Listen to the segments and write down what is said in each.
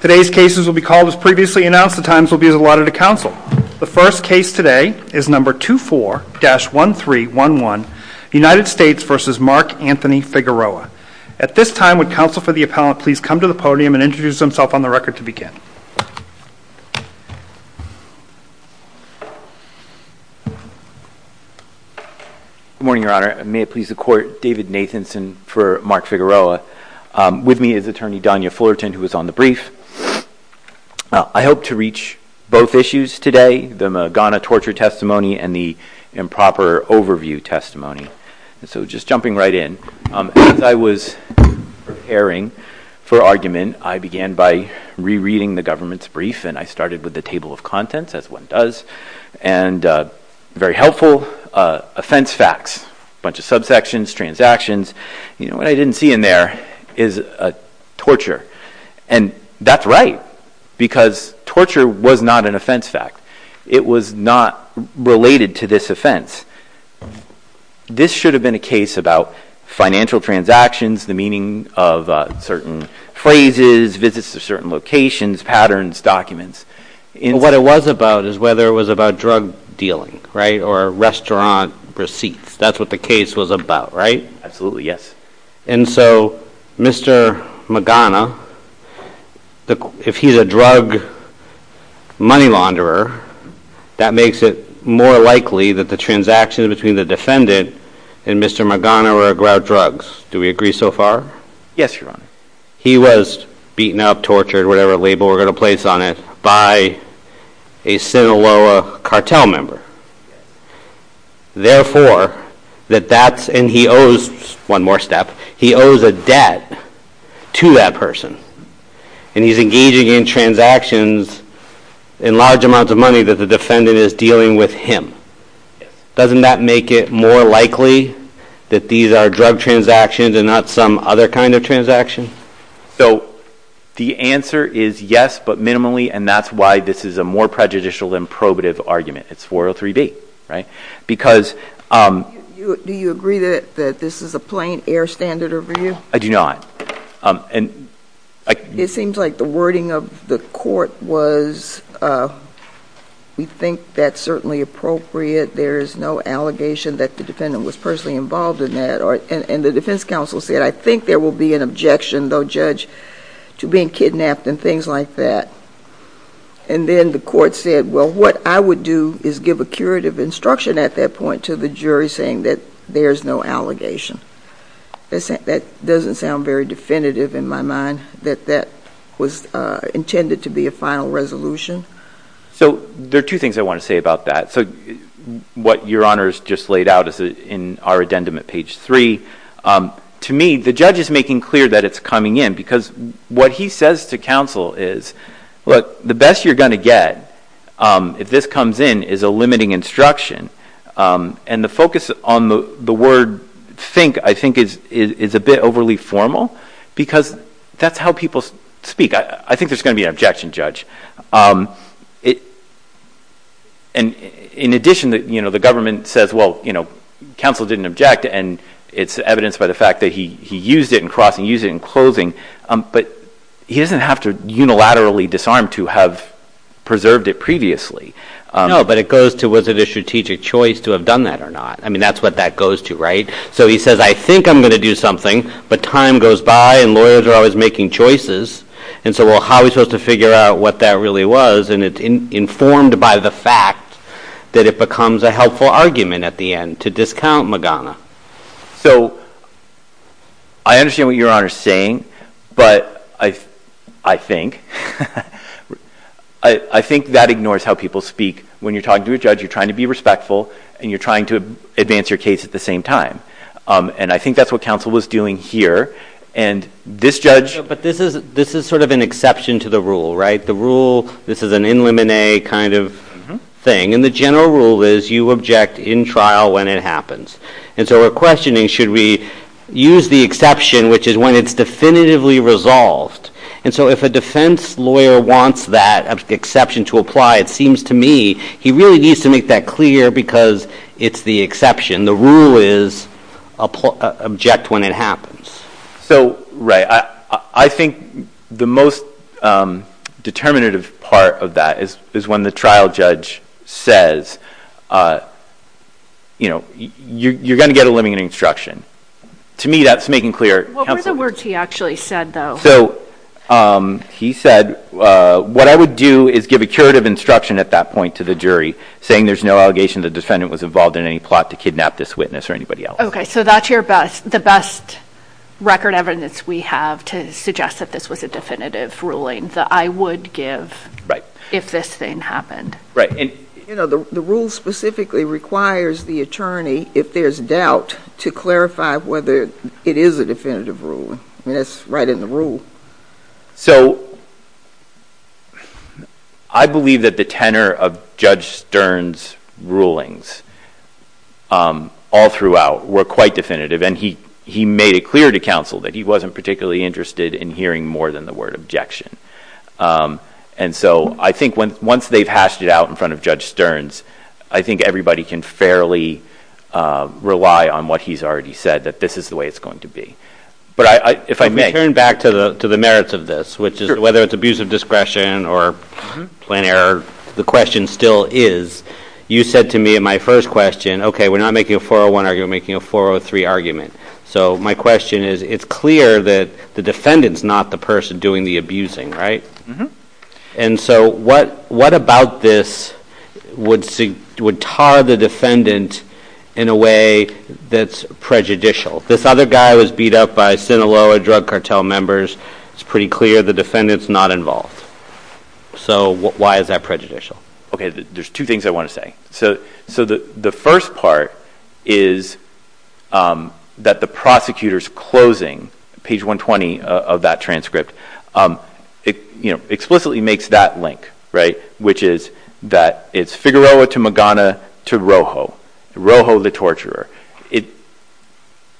Today's cases will be called as previously announced. The times will be allotted to counsel. The first case today is number 24-1311, United States v. Mark Anthony Figueroa. At this time, would counsel for the appellant please come to the podium and introduce himself on the record to begin. Good morning, your honor. May it please the court, David Nathanson for Mark Figueroa. With me is attorney Donya Fullerton who is on the brief. I hope to reach both issues today, the Magana torture testimony and the improper overview testimony. So just jumping right in. As I was preparing for argument, I began by rereading the government's brief and I started with the table of contents as one does and very helpful offense facts, a bunch of subsections, transactions. You know and that's right because torture was not an offense fact. It was not related to this offense. This should have been a case about financial transactions, the meaning of certain phrases, visits to certain locations, patterns, documents. What it was about is whether it was about drug dealing, right, or restaurant receipts. That's what the case was about, right? Absolutely, yes. And so Mr. Magana, if he's a drug money launderer, that makes it more likely that the transaction between the defendant and Mr. Magana were about drugs. Do we agree so far? Yes, your honor. He was beaten up, tortured, whatever label we're going to place on it, by a Sinaloa cartel member. Therefore, that that's, and he owes, one more step, he owes a debt to that person and he's engaging in transactions in large amounts of money that the defendant is dealing with him. Doesn't that make it more likely that these are drug transactions and not some other kind of transaction? So the answer is yes, but minimally, and that's why this is a more prejudicial than probative argument. It's 403B, right? Because... Do you agree that this is a plain air standard over you? I do not. It seems like the wording of the court was, we think that's certainly appropriate. There is no allegation that the defendant was personally involved in that. And the defense counsel said, I think there will be an objection, though, judge, to being kidnapped and things like that. And then the court said, well, what I would do is give a curative instruction at that point to the jury saying that there's no allegation. That doesn't sound very definitive in my mind that that was intended to be a final resolution. So there are two things I want to say about that. So what your honors just laid out is in our addendum at page three, to me, the judge is making clear that it's coming in because what he says to counsel is, look, the best you're going to get if this comes in is a limiting instruction. And the focus on the word think, I think, is a bit overly formal because that's how people speak. I think there's going to be an objection, judge. And in addition, the government says, well, counsel didn't object. And it's evidenced by the fact that he used it in crossing, used it in closing. But he doesn't have to unilaterally disarm to have preserved it previously. No, but it goes to, was it a strategic choice to have done that or not? I mean, that's what that goes to, right? So he says, I think I'm going to do something. But time goes by and lawyers are always making choices. And so how are we supposed to figure out what that really was? And it's informed by the fact that it becomes a helpful argument at the end to discount Magana. So I understand what your honor is saying, but I think, I think that ignores how people speak. When you're talking to a judge, you're trying to be respectful and you're trying to advance your case at the same time. And I think that's what counsel was doing here. And this judge, but this is, this is sort of an exception to the rule, right? The rule, this is an in limine kind of thing. And the general rule is you object in trial when it happens. And so we're questioning, should we use the exception, which is when it's definitively resolved. And so if a defense lawyer wants that exception to apply, it seems to me, he really needs to make that clear because it's the exception. The rule is object when it happens. So, right. I think the most determinative part of that is when the trial judge says, you know, you're going to get a limiting instruction. To me, that's making clear. What were the words he actually said though? So he said, what I would do is give a curative instruction at that point to the jury saying there's no allegation the defendant was involved in any plot to kidnap this witness or anybody else. Okay. So that's your best, the best record evidence we have to suggest that this was a definitive ruling that I would give if this thing happened. Right. And you know, the rule specifically requires the attorney, if there's doubt, to clarify whether it is a definitive ruling. I mean, it's right in the rule. So I believe that the tenor of Judge Stern's rulings all throughout were quite definitive. And he, he made it clear to counsel that he wasn't particularly interested in hearing more than the word objection. And so I think when, once they've hashed it out in front of Judge Stern's, I think everybody can fairly rely on what he's already said, that this is the way it's going to be. But I, if I may. Turn back to the, to the merits of this, which is whether it's abuse of discretion or plan error, the question still is, you said to me in my first question, okay, we're not making a 401 argument, we're making a 403 argument. So my question is, it's clear that the defendant's not the person doing the abusing, right? And so what, what about this would, would tar the defendant in a way that's prejudicial? This other guy was beat up by Sinaloa drug cartel members. It's pretty clear the defendant's not involved. So why is that prejudicial? Okay. There's two things I want to say. So, so the, the first part is that the prosecutor's closing, page 120 of that transcript, it explicitly makes that link, right? Which is that it's Figueroa to Magana to Rojo, Rojo the torturer. It,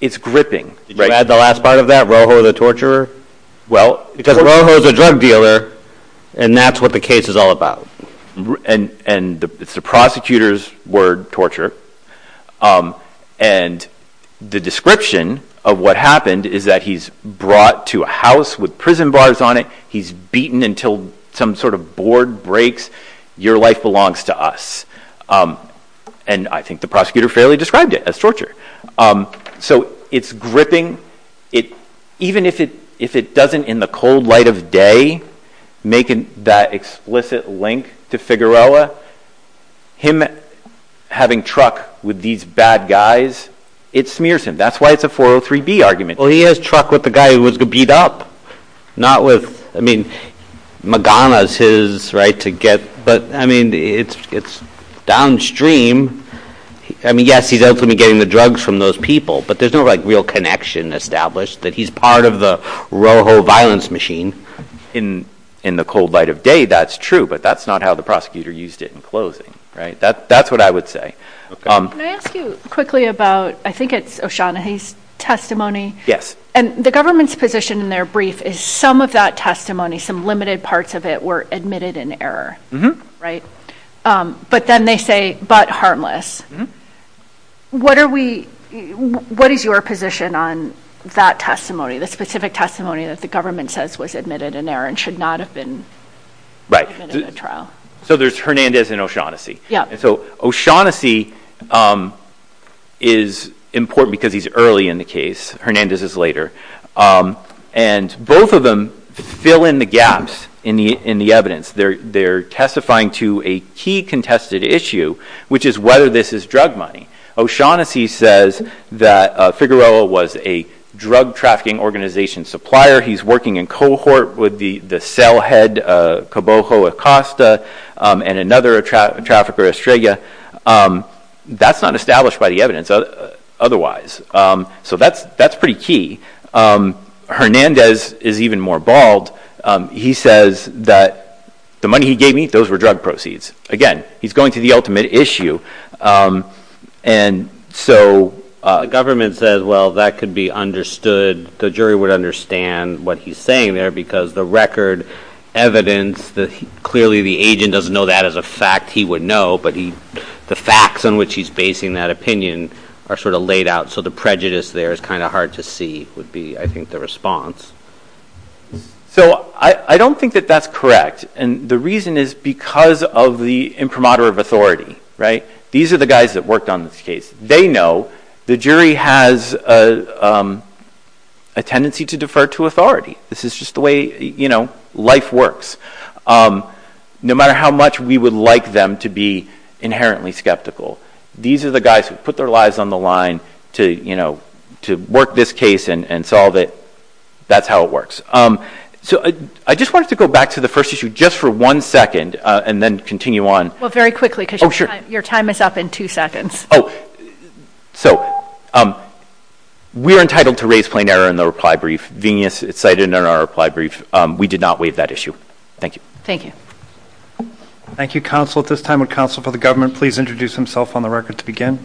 it's gripping. Did you add the last part of that, Rojo the torturer? Well, because Rojo's a drug dealer and that's what the case is all about. And, and it's the prosecutor's word, torture. And the description of what happened is that he's brought to a house with prison bars on it. He's beaten until some sort of board breaks. Your life belongs to us. And I think the prosecutor fairly described it as torture. So it's gripping it, even if it, if it doesn't in the cold light of day, making that explicit link to Figueroa, him having truck with these bad guys, it smears him. That's why it's a 403B argument. Well, he has truck with the guy who was beat up, not with, I mean, Magana's his right to get, but I mean, it's, it's downstream. I mean, yes, he's ultimately getting the drugs from those people, but there's no like real connection established that he's part of the Rojo violence machine in, in the cold light of day. That's true, but that's not how the prosecutor used it in closing. Right. That, that's what I would say. Can I ask you quickly about, I think it's O'Shaughnessy's testimony. Yes. And the government's position in their brief is some of that testimony, some limited parts of it were admitted in error, right? But then they say, but harmless. What are we, what is your position on that testimony, the specific testimony that the government says was admitted in error and should not have been admitted in the trial? Right. So there's Hernandez and O'Shaughnessy. So O'Shaughnessy is important because he's early in the case. Hernandez is later. And both of them fill in the gaps in the, in the evidence. They're, they're testifying to a key contested issue, which is whether this is drug money. O'Shaughnessy says that Figueroa was a drug trafficking organization supplier. He's working in cohort with the, the cell head, Cabojo Acosta and another trafficker, Estrella. That's not established by the evidence otherwise. So that's, that's pretty key. Hernandez is even more bald. He says that the money he gave me, those were drug proceeds. Again, he's going to the ultimate issue. And so government says, well, that could be understood. The jury would understand what he's saying there because the record evidence that clearly the agent doesn't know that as a fact he would know, but he, the facts on which he's basing that opinion are sort of laid out. So the prejudice there is kind of hard to see would be, I think the response. So I don't think that that's correct. And the reason is because of the imprimatur of authority, right? These are the guys that worked on this case. They know the jury has a, um, a tendency to defer to authority. This is just the way, you know, life works. Um, no matter how much we would like them to be inherently skeptical, these are the guys who put their lives on the line to, you know, to work this case and solve it. That's how it works. Um, so I just wanted to go back to the first issue just for one second, and then continue on. Well, very quickly, because your time is up in two seconds. Oh, so, um, we are entitled to raise plain error in the reply brief, being cited in our reply brief. Um, we did not waive that issue. Thank you. Thank you. Thank you, counsel. At this time, would counsel for the government please introduce himself on the record to begin?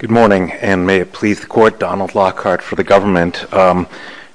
Good morning, and may it please the court, Donald Lockhart for the government. Um,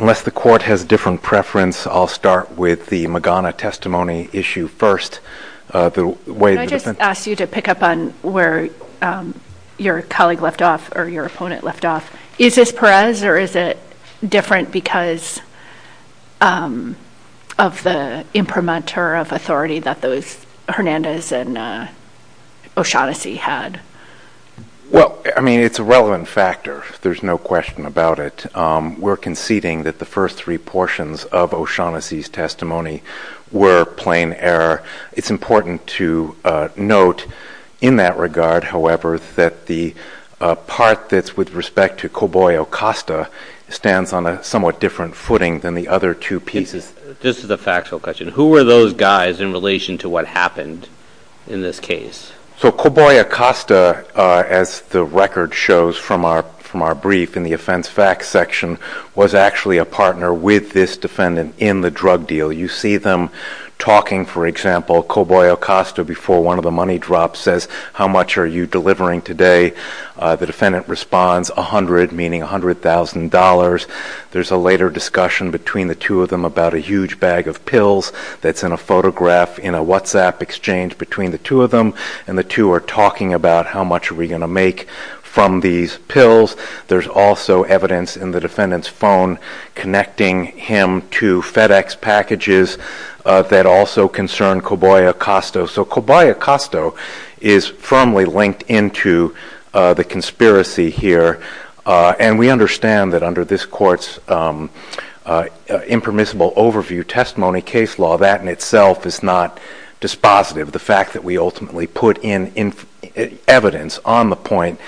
unless the court has different preference, I'll start with the Magana testimony issue first. Uh, the way that asked you to pick up on where, um, your colleague left off or your opponent left off, is this Perez or is it different because, um, of the imprimatur of authority that those Hernandez and, uh, O'Shaughnessy had? Well, I mean, it's a relevant factor. There's no question about it. Um, we're conceding that the first three portions of O'Shaughnessy's testimony were plain error. It's important to, uh, note in that regard, however, that the, uh, part that's with respect to Coboy Acosta stands on a somewhat different footing than the other two pieces. This is a factual question. Who were those guys in relation to what happened in this case? So Coboy Acosta, uh, as the record shows from our, from our brief in the offense facts section, was actually a partner with this defendant in the drug deal. You see them talking, for example, Coboy Acosta before one of the money drops says, how much are you delivering today? Uh, the defendant responds a hundred, meaning a hundred thousand dollars. There's a later discussion between the two of them about a huge bag of pills that's in a photograph in a WhatsApp exchange between the two of them and the two are talking about how much are we going to make from these pills. There's also evidence in the defendant's phone connecting him to FedEx packages, uh, that also concern Coboy Acosta. So Coboy Acosta is firmly linked into, uh, the conspiracy here. Uh, and we understand that under this court's, um, uh, uh, impermissible overview testimony case law, that in itself is not dispositive. The fact that we ultimately put in evidence on the point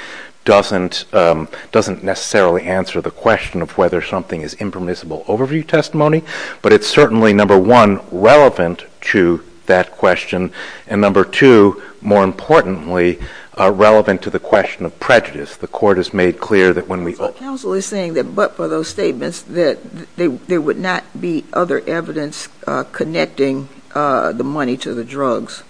doesn't, um, doesn't necessarily answer the question of whether something is impermissible overview testimony, but it's certainly number one, relevant to that question. And number two, more importantly, uh, relevant to the question of prejudice. The court has made clear that when we... So the council is saying that, but for those statements that there would not be other evidence, uh, connecting, uh, the money to the drugs.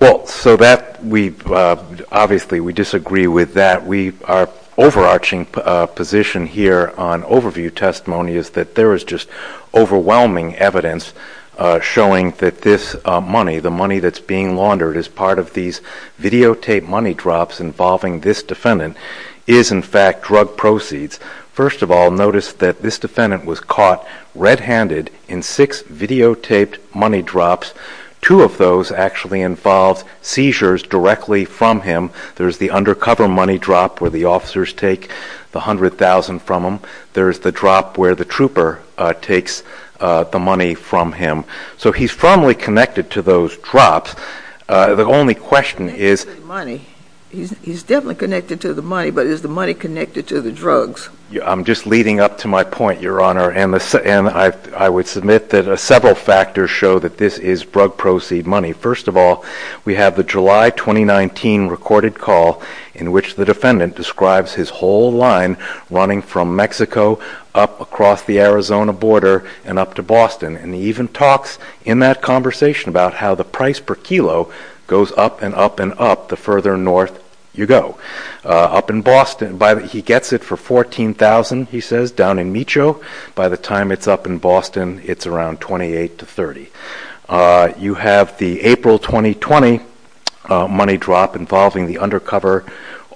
Well, so that we, uh, obviously we disagree with that. We are overarching, uh, position here on overview testimony is that there is just overwhelming evidence, uh, showing that this, uh, money, the money that's being laundered as part of these videotape money drops involving this defendant is in fact drug proceeds. First of all, notice that this defendant was caught red-handed in six videotaped money drops. Two of those actually involved seizures directly from him. There's the undercover money drop where the officers take the hundred thousand from him. There's the drop where the trooper, uh, takes, uh, the money from him. So he's firmly connected to those drops. Uh, the only question is... Money. He's definitely connected to the money, but is the money connected to the drugs? I'm just leading up to my point, Your Honor. And I would submit that several factors show that this is drug proceed money. First of all, we have the July, 2019 recorded call in which the defendant describes his whole line running from Mexico up across the Arizona border and up to Boston. And he even talks in that conversation about how the price per kilo goes up and up and up the further north you go. Uh, up in Boston, by the, he gets it for 14,000, he says, down in Micho. By the time it's up in Boston, it's around 28 to 30. Uh, you have the April, 2020, uh, money drop involving the undercover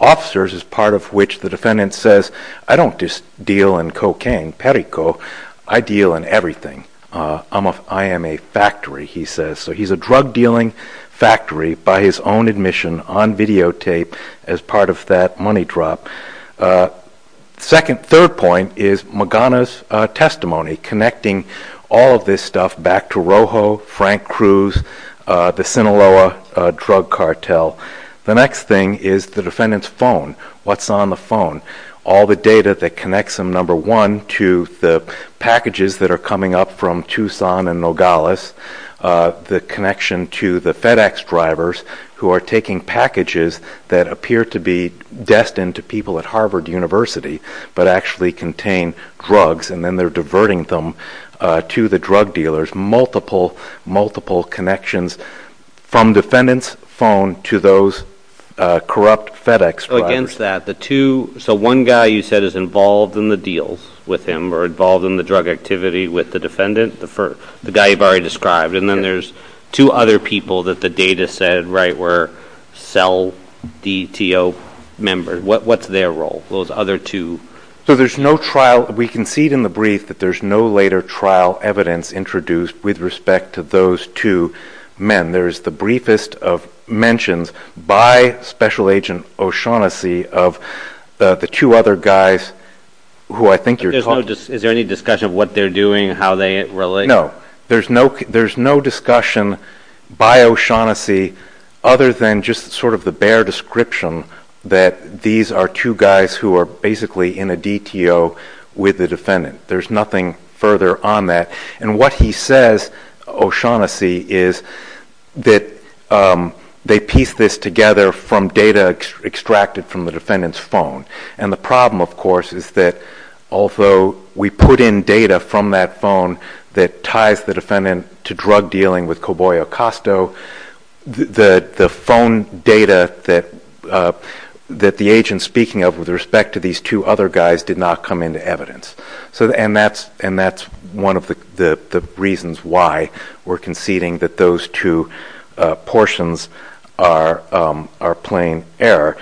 officers as part of which the defendant says, I don't just deal in cocaine, perico, I deal in everything. Uh, I'm a, I am a factory, he says. So he's a drug dealing factory by his own admission on videotape as part of that money drop. Uh, second, third point is Magana's, uh, testimony connecting all of this stuff back to Rojo, Frank Cruz, uh, the Sinaloa, uh, drug cartel. The next thing is the defendant's phone. What's on the phone? All the data that connects them, number one, to the packages that are coming up from Tucson and Nogales, uh, the connection to the FedEx drivers who are taking packages that appear to be destined to people at Harvard University, but actually contain drugs and then they're diverting them, uh, to the drug dealers. Multiple, multiple connections from defendant's phone to those, uh, corrupt FedEx drivers. Against that, the two, so one guy you said is involved in the deals with him or involved in the drug activity with the defendant, the first, the guy you've already described. And then there's two other people that the data said, right, were cell DTO members. What, what's their role? Those other two. So there's no trial. We concede in the brief that there's no later trial evidence introduced with respect to those two men. There's the briefest of mentions by special agent O'Shaughnessy of the two other guys who I think you're talking to. Is there any discussion of what they're doing, how they relate? No, there's no, there's no discussion by O'Shaughnessy other than just sort of the bare description that these are two guys who are basically in a DTO with the defendant. There's nothing further on that. And what he says, O'Shaughnessy is that, um, they piece this together from data extracted from the defendant's phone. And the problem of course, is that although we put in data from that phone that ties the defendant to drug dealing with Coboy Acosto, the, the phone data that, uh, that the agent speaking of with respect to these two other guys did not come into evidence. So, and that's, and that's one of the, the, the reasons why we're conceding that those two portions are, um, are plain error.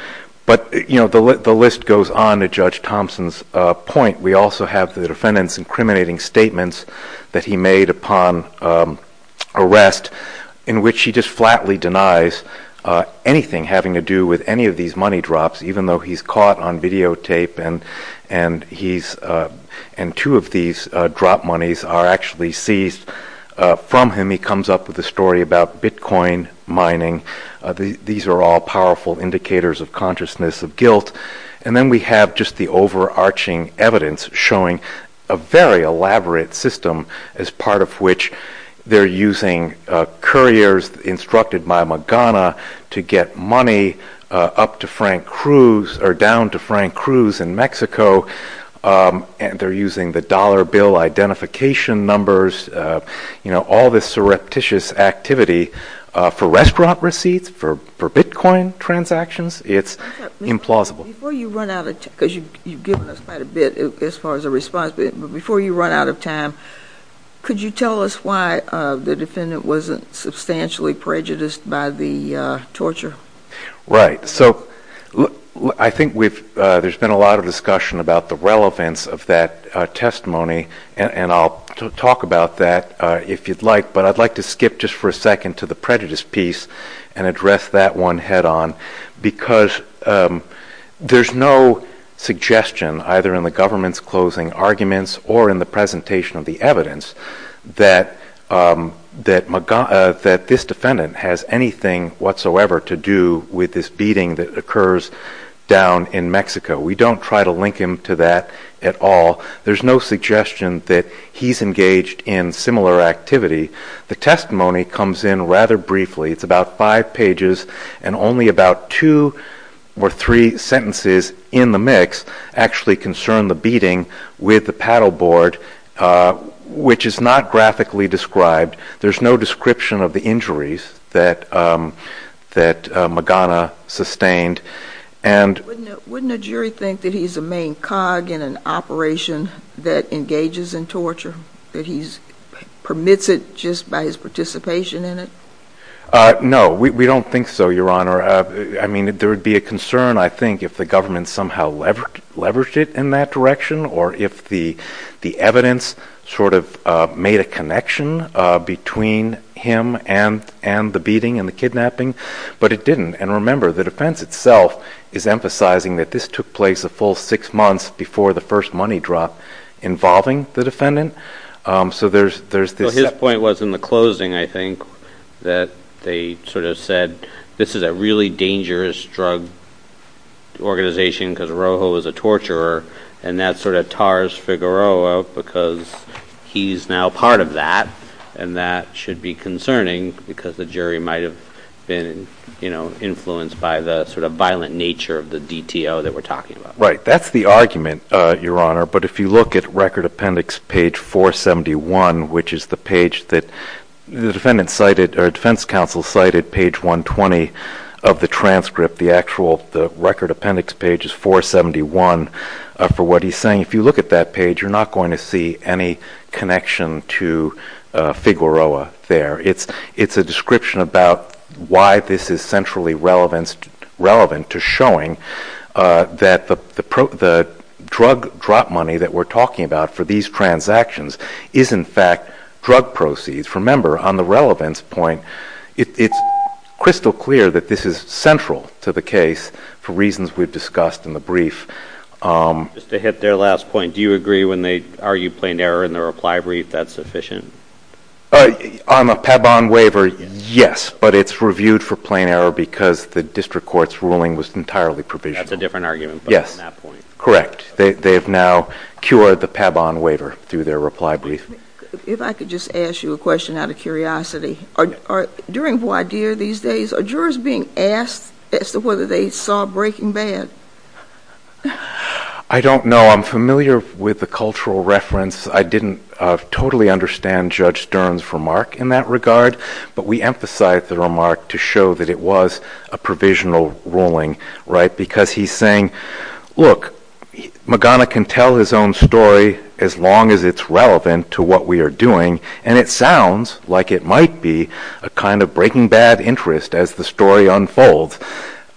But you know, the list goes on to Judge Thompson's point. We also have the defendant's incriminating statements that he made upon, um, arrest in which he just flatly denies, uh, anything having to do with any of these money drops, even though he's caught on videotape and, and he's, uh, and two of these, uh, drop moneys are actually seized, uh, from him. He comes up with a story about Bitcoin mining. Uh, the, these are all powerful indicators of consciousness of guilt. And then we have just the overarching evidence showing a very elaborate system as part of which they're using, uh, couriers instructed by Magana to get money, uh, up to Frank Cruz or down to Frank Cruz in Mexico. Um, and they're using the dollar bill identification numbers, uh, you know, all this surreptitious activity, uh, for restaurant receipts, for, for Bitcoin transactions, it's implausible. Before you run out of time, because you, you've given us quite a bit as far as a response, but before you run out of time, could you tell us why, uh, the defendant wasn't substantially prejudiced by the, uh, torture? Right. So I think we've, uh, there's been a lot of discussion about the relevance of that, uh, testimony and, and I'll talk about that, uh, if you'd like, but I'd like to skip just for a second to the prejudice piece and address that one head on because, um, there's no suggestion either in the government's closing arguments or in the presentation of the evidence that, um, that Magana, uh, that this defendant has anything whatsoever to do with this beating that occurs down in Mexico. We don't try to link him to that at all. There's no suggestion that he's engaged in similar activity. The testimony comes in rather briefly. It's about five pages and only about two or three sentences in the mix actually concern the beating with the paddleboard, uh, which is not graphically described. There's no description of the injuries that, um, that, uh, Magana sustained. And wouldn't a jury think that he's a main cog in an operation that engages in torture, that he's permits it just by his participation in it? Uh, no, we, we don't think so, Your Honor. Uh, I mean, there would be a concern, I think if the government somehow leveraged it in that direction or if the, the evidence sort of, uh, made a connection, uh, between him and, and the beating and the kidnapping, but it didn't. And remember the defense itself is emphasizing that this took place a full six months before the first money drop involving the defendant. Um, so there's, there's this point was in the closing, I think that they sort of said this is a really dangerous drug organization because Rojo is a torturer and that sort of tars Figueroa because he's now part of that and that should be concerning because the jury might've been, you know, influenced by the sort of violent nature of the DTO that we're talking about. Right. That's the argument, uh, Your Honor. But if you look at record appendix page 471, which is the page that the defendant cited or defense counsel cited page 120 of the transcript, the actual, the record appendix page is 471. Uh, for what he's saying, if you look at that page, you're not going to see any connection to, uh, Figueroa there. It's, it's a description about why this is centrally relevance, relevant to showing, uh, that the, the pro the drug drop money that we're talking about for these transactions is in fact drug proceeds. Remember on the relevance point, it's crystal clear that this is central to the case for reasons we've discussed in the brief. Um, just to hit their last point, do you agree when they argue plain error in the reply brief that's sufficient? Uh, on the Pabon waiver? Yes, but it's reviewed for plain error because the district court's ruling was entirely provisional. That's a different argument. Yes. Correct. They, they've now cured the Pabon waiver through their reply brief. If I could just ask you a question out of curiosity, are, are during voir dire these days, are jurors being asked as to whether they saw Breaking Bad? I don't know. I'm familiar with the cultural reference. I didn't, uh, totally understand Judge Stern's remark in that regard, but we emphasize the remark to show that it was a provisional ruling, right? Because he's saying, look, Magana can tell his own story as long as it's relevant to what we are doing. And it sounds like it might be a kind of Breaking Bad interest as the story unfolds.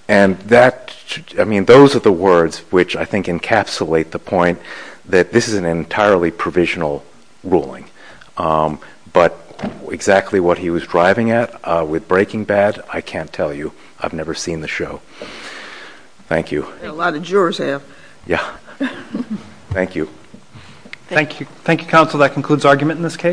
And that, I mean, those are the words which I think encapsulate the point that this is an entirely provisional ruling. Um, but exactly what he was at with Breaking Bad, I can't tell you. I've never seen the show. Thank you. A lot of jurors have. Yeah. Thank you. Thank you. Thank you, counsel. That concludes argument in this case.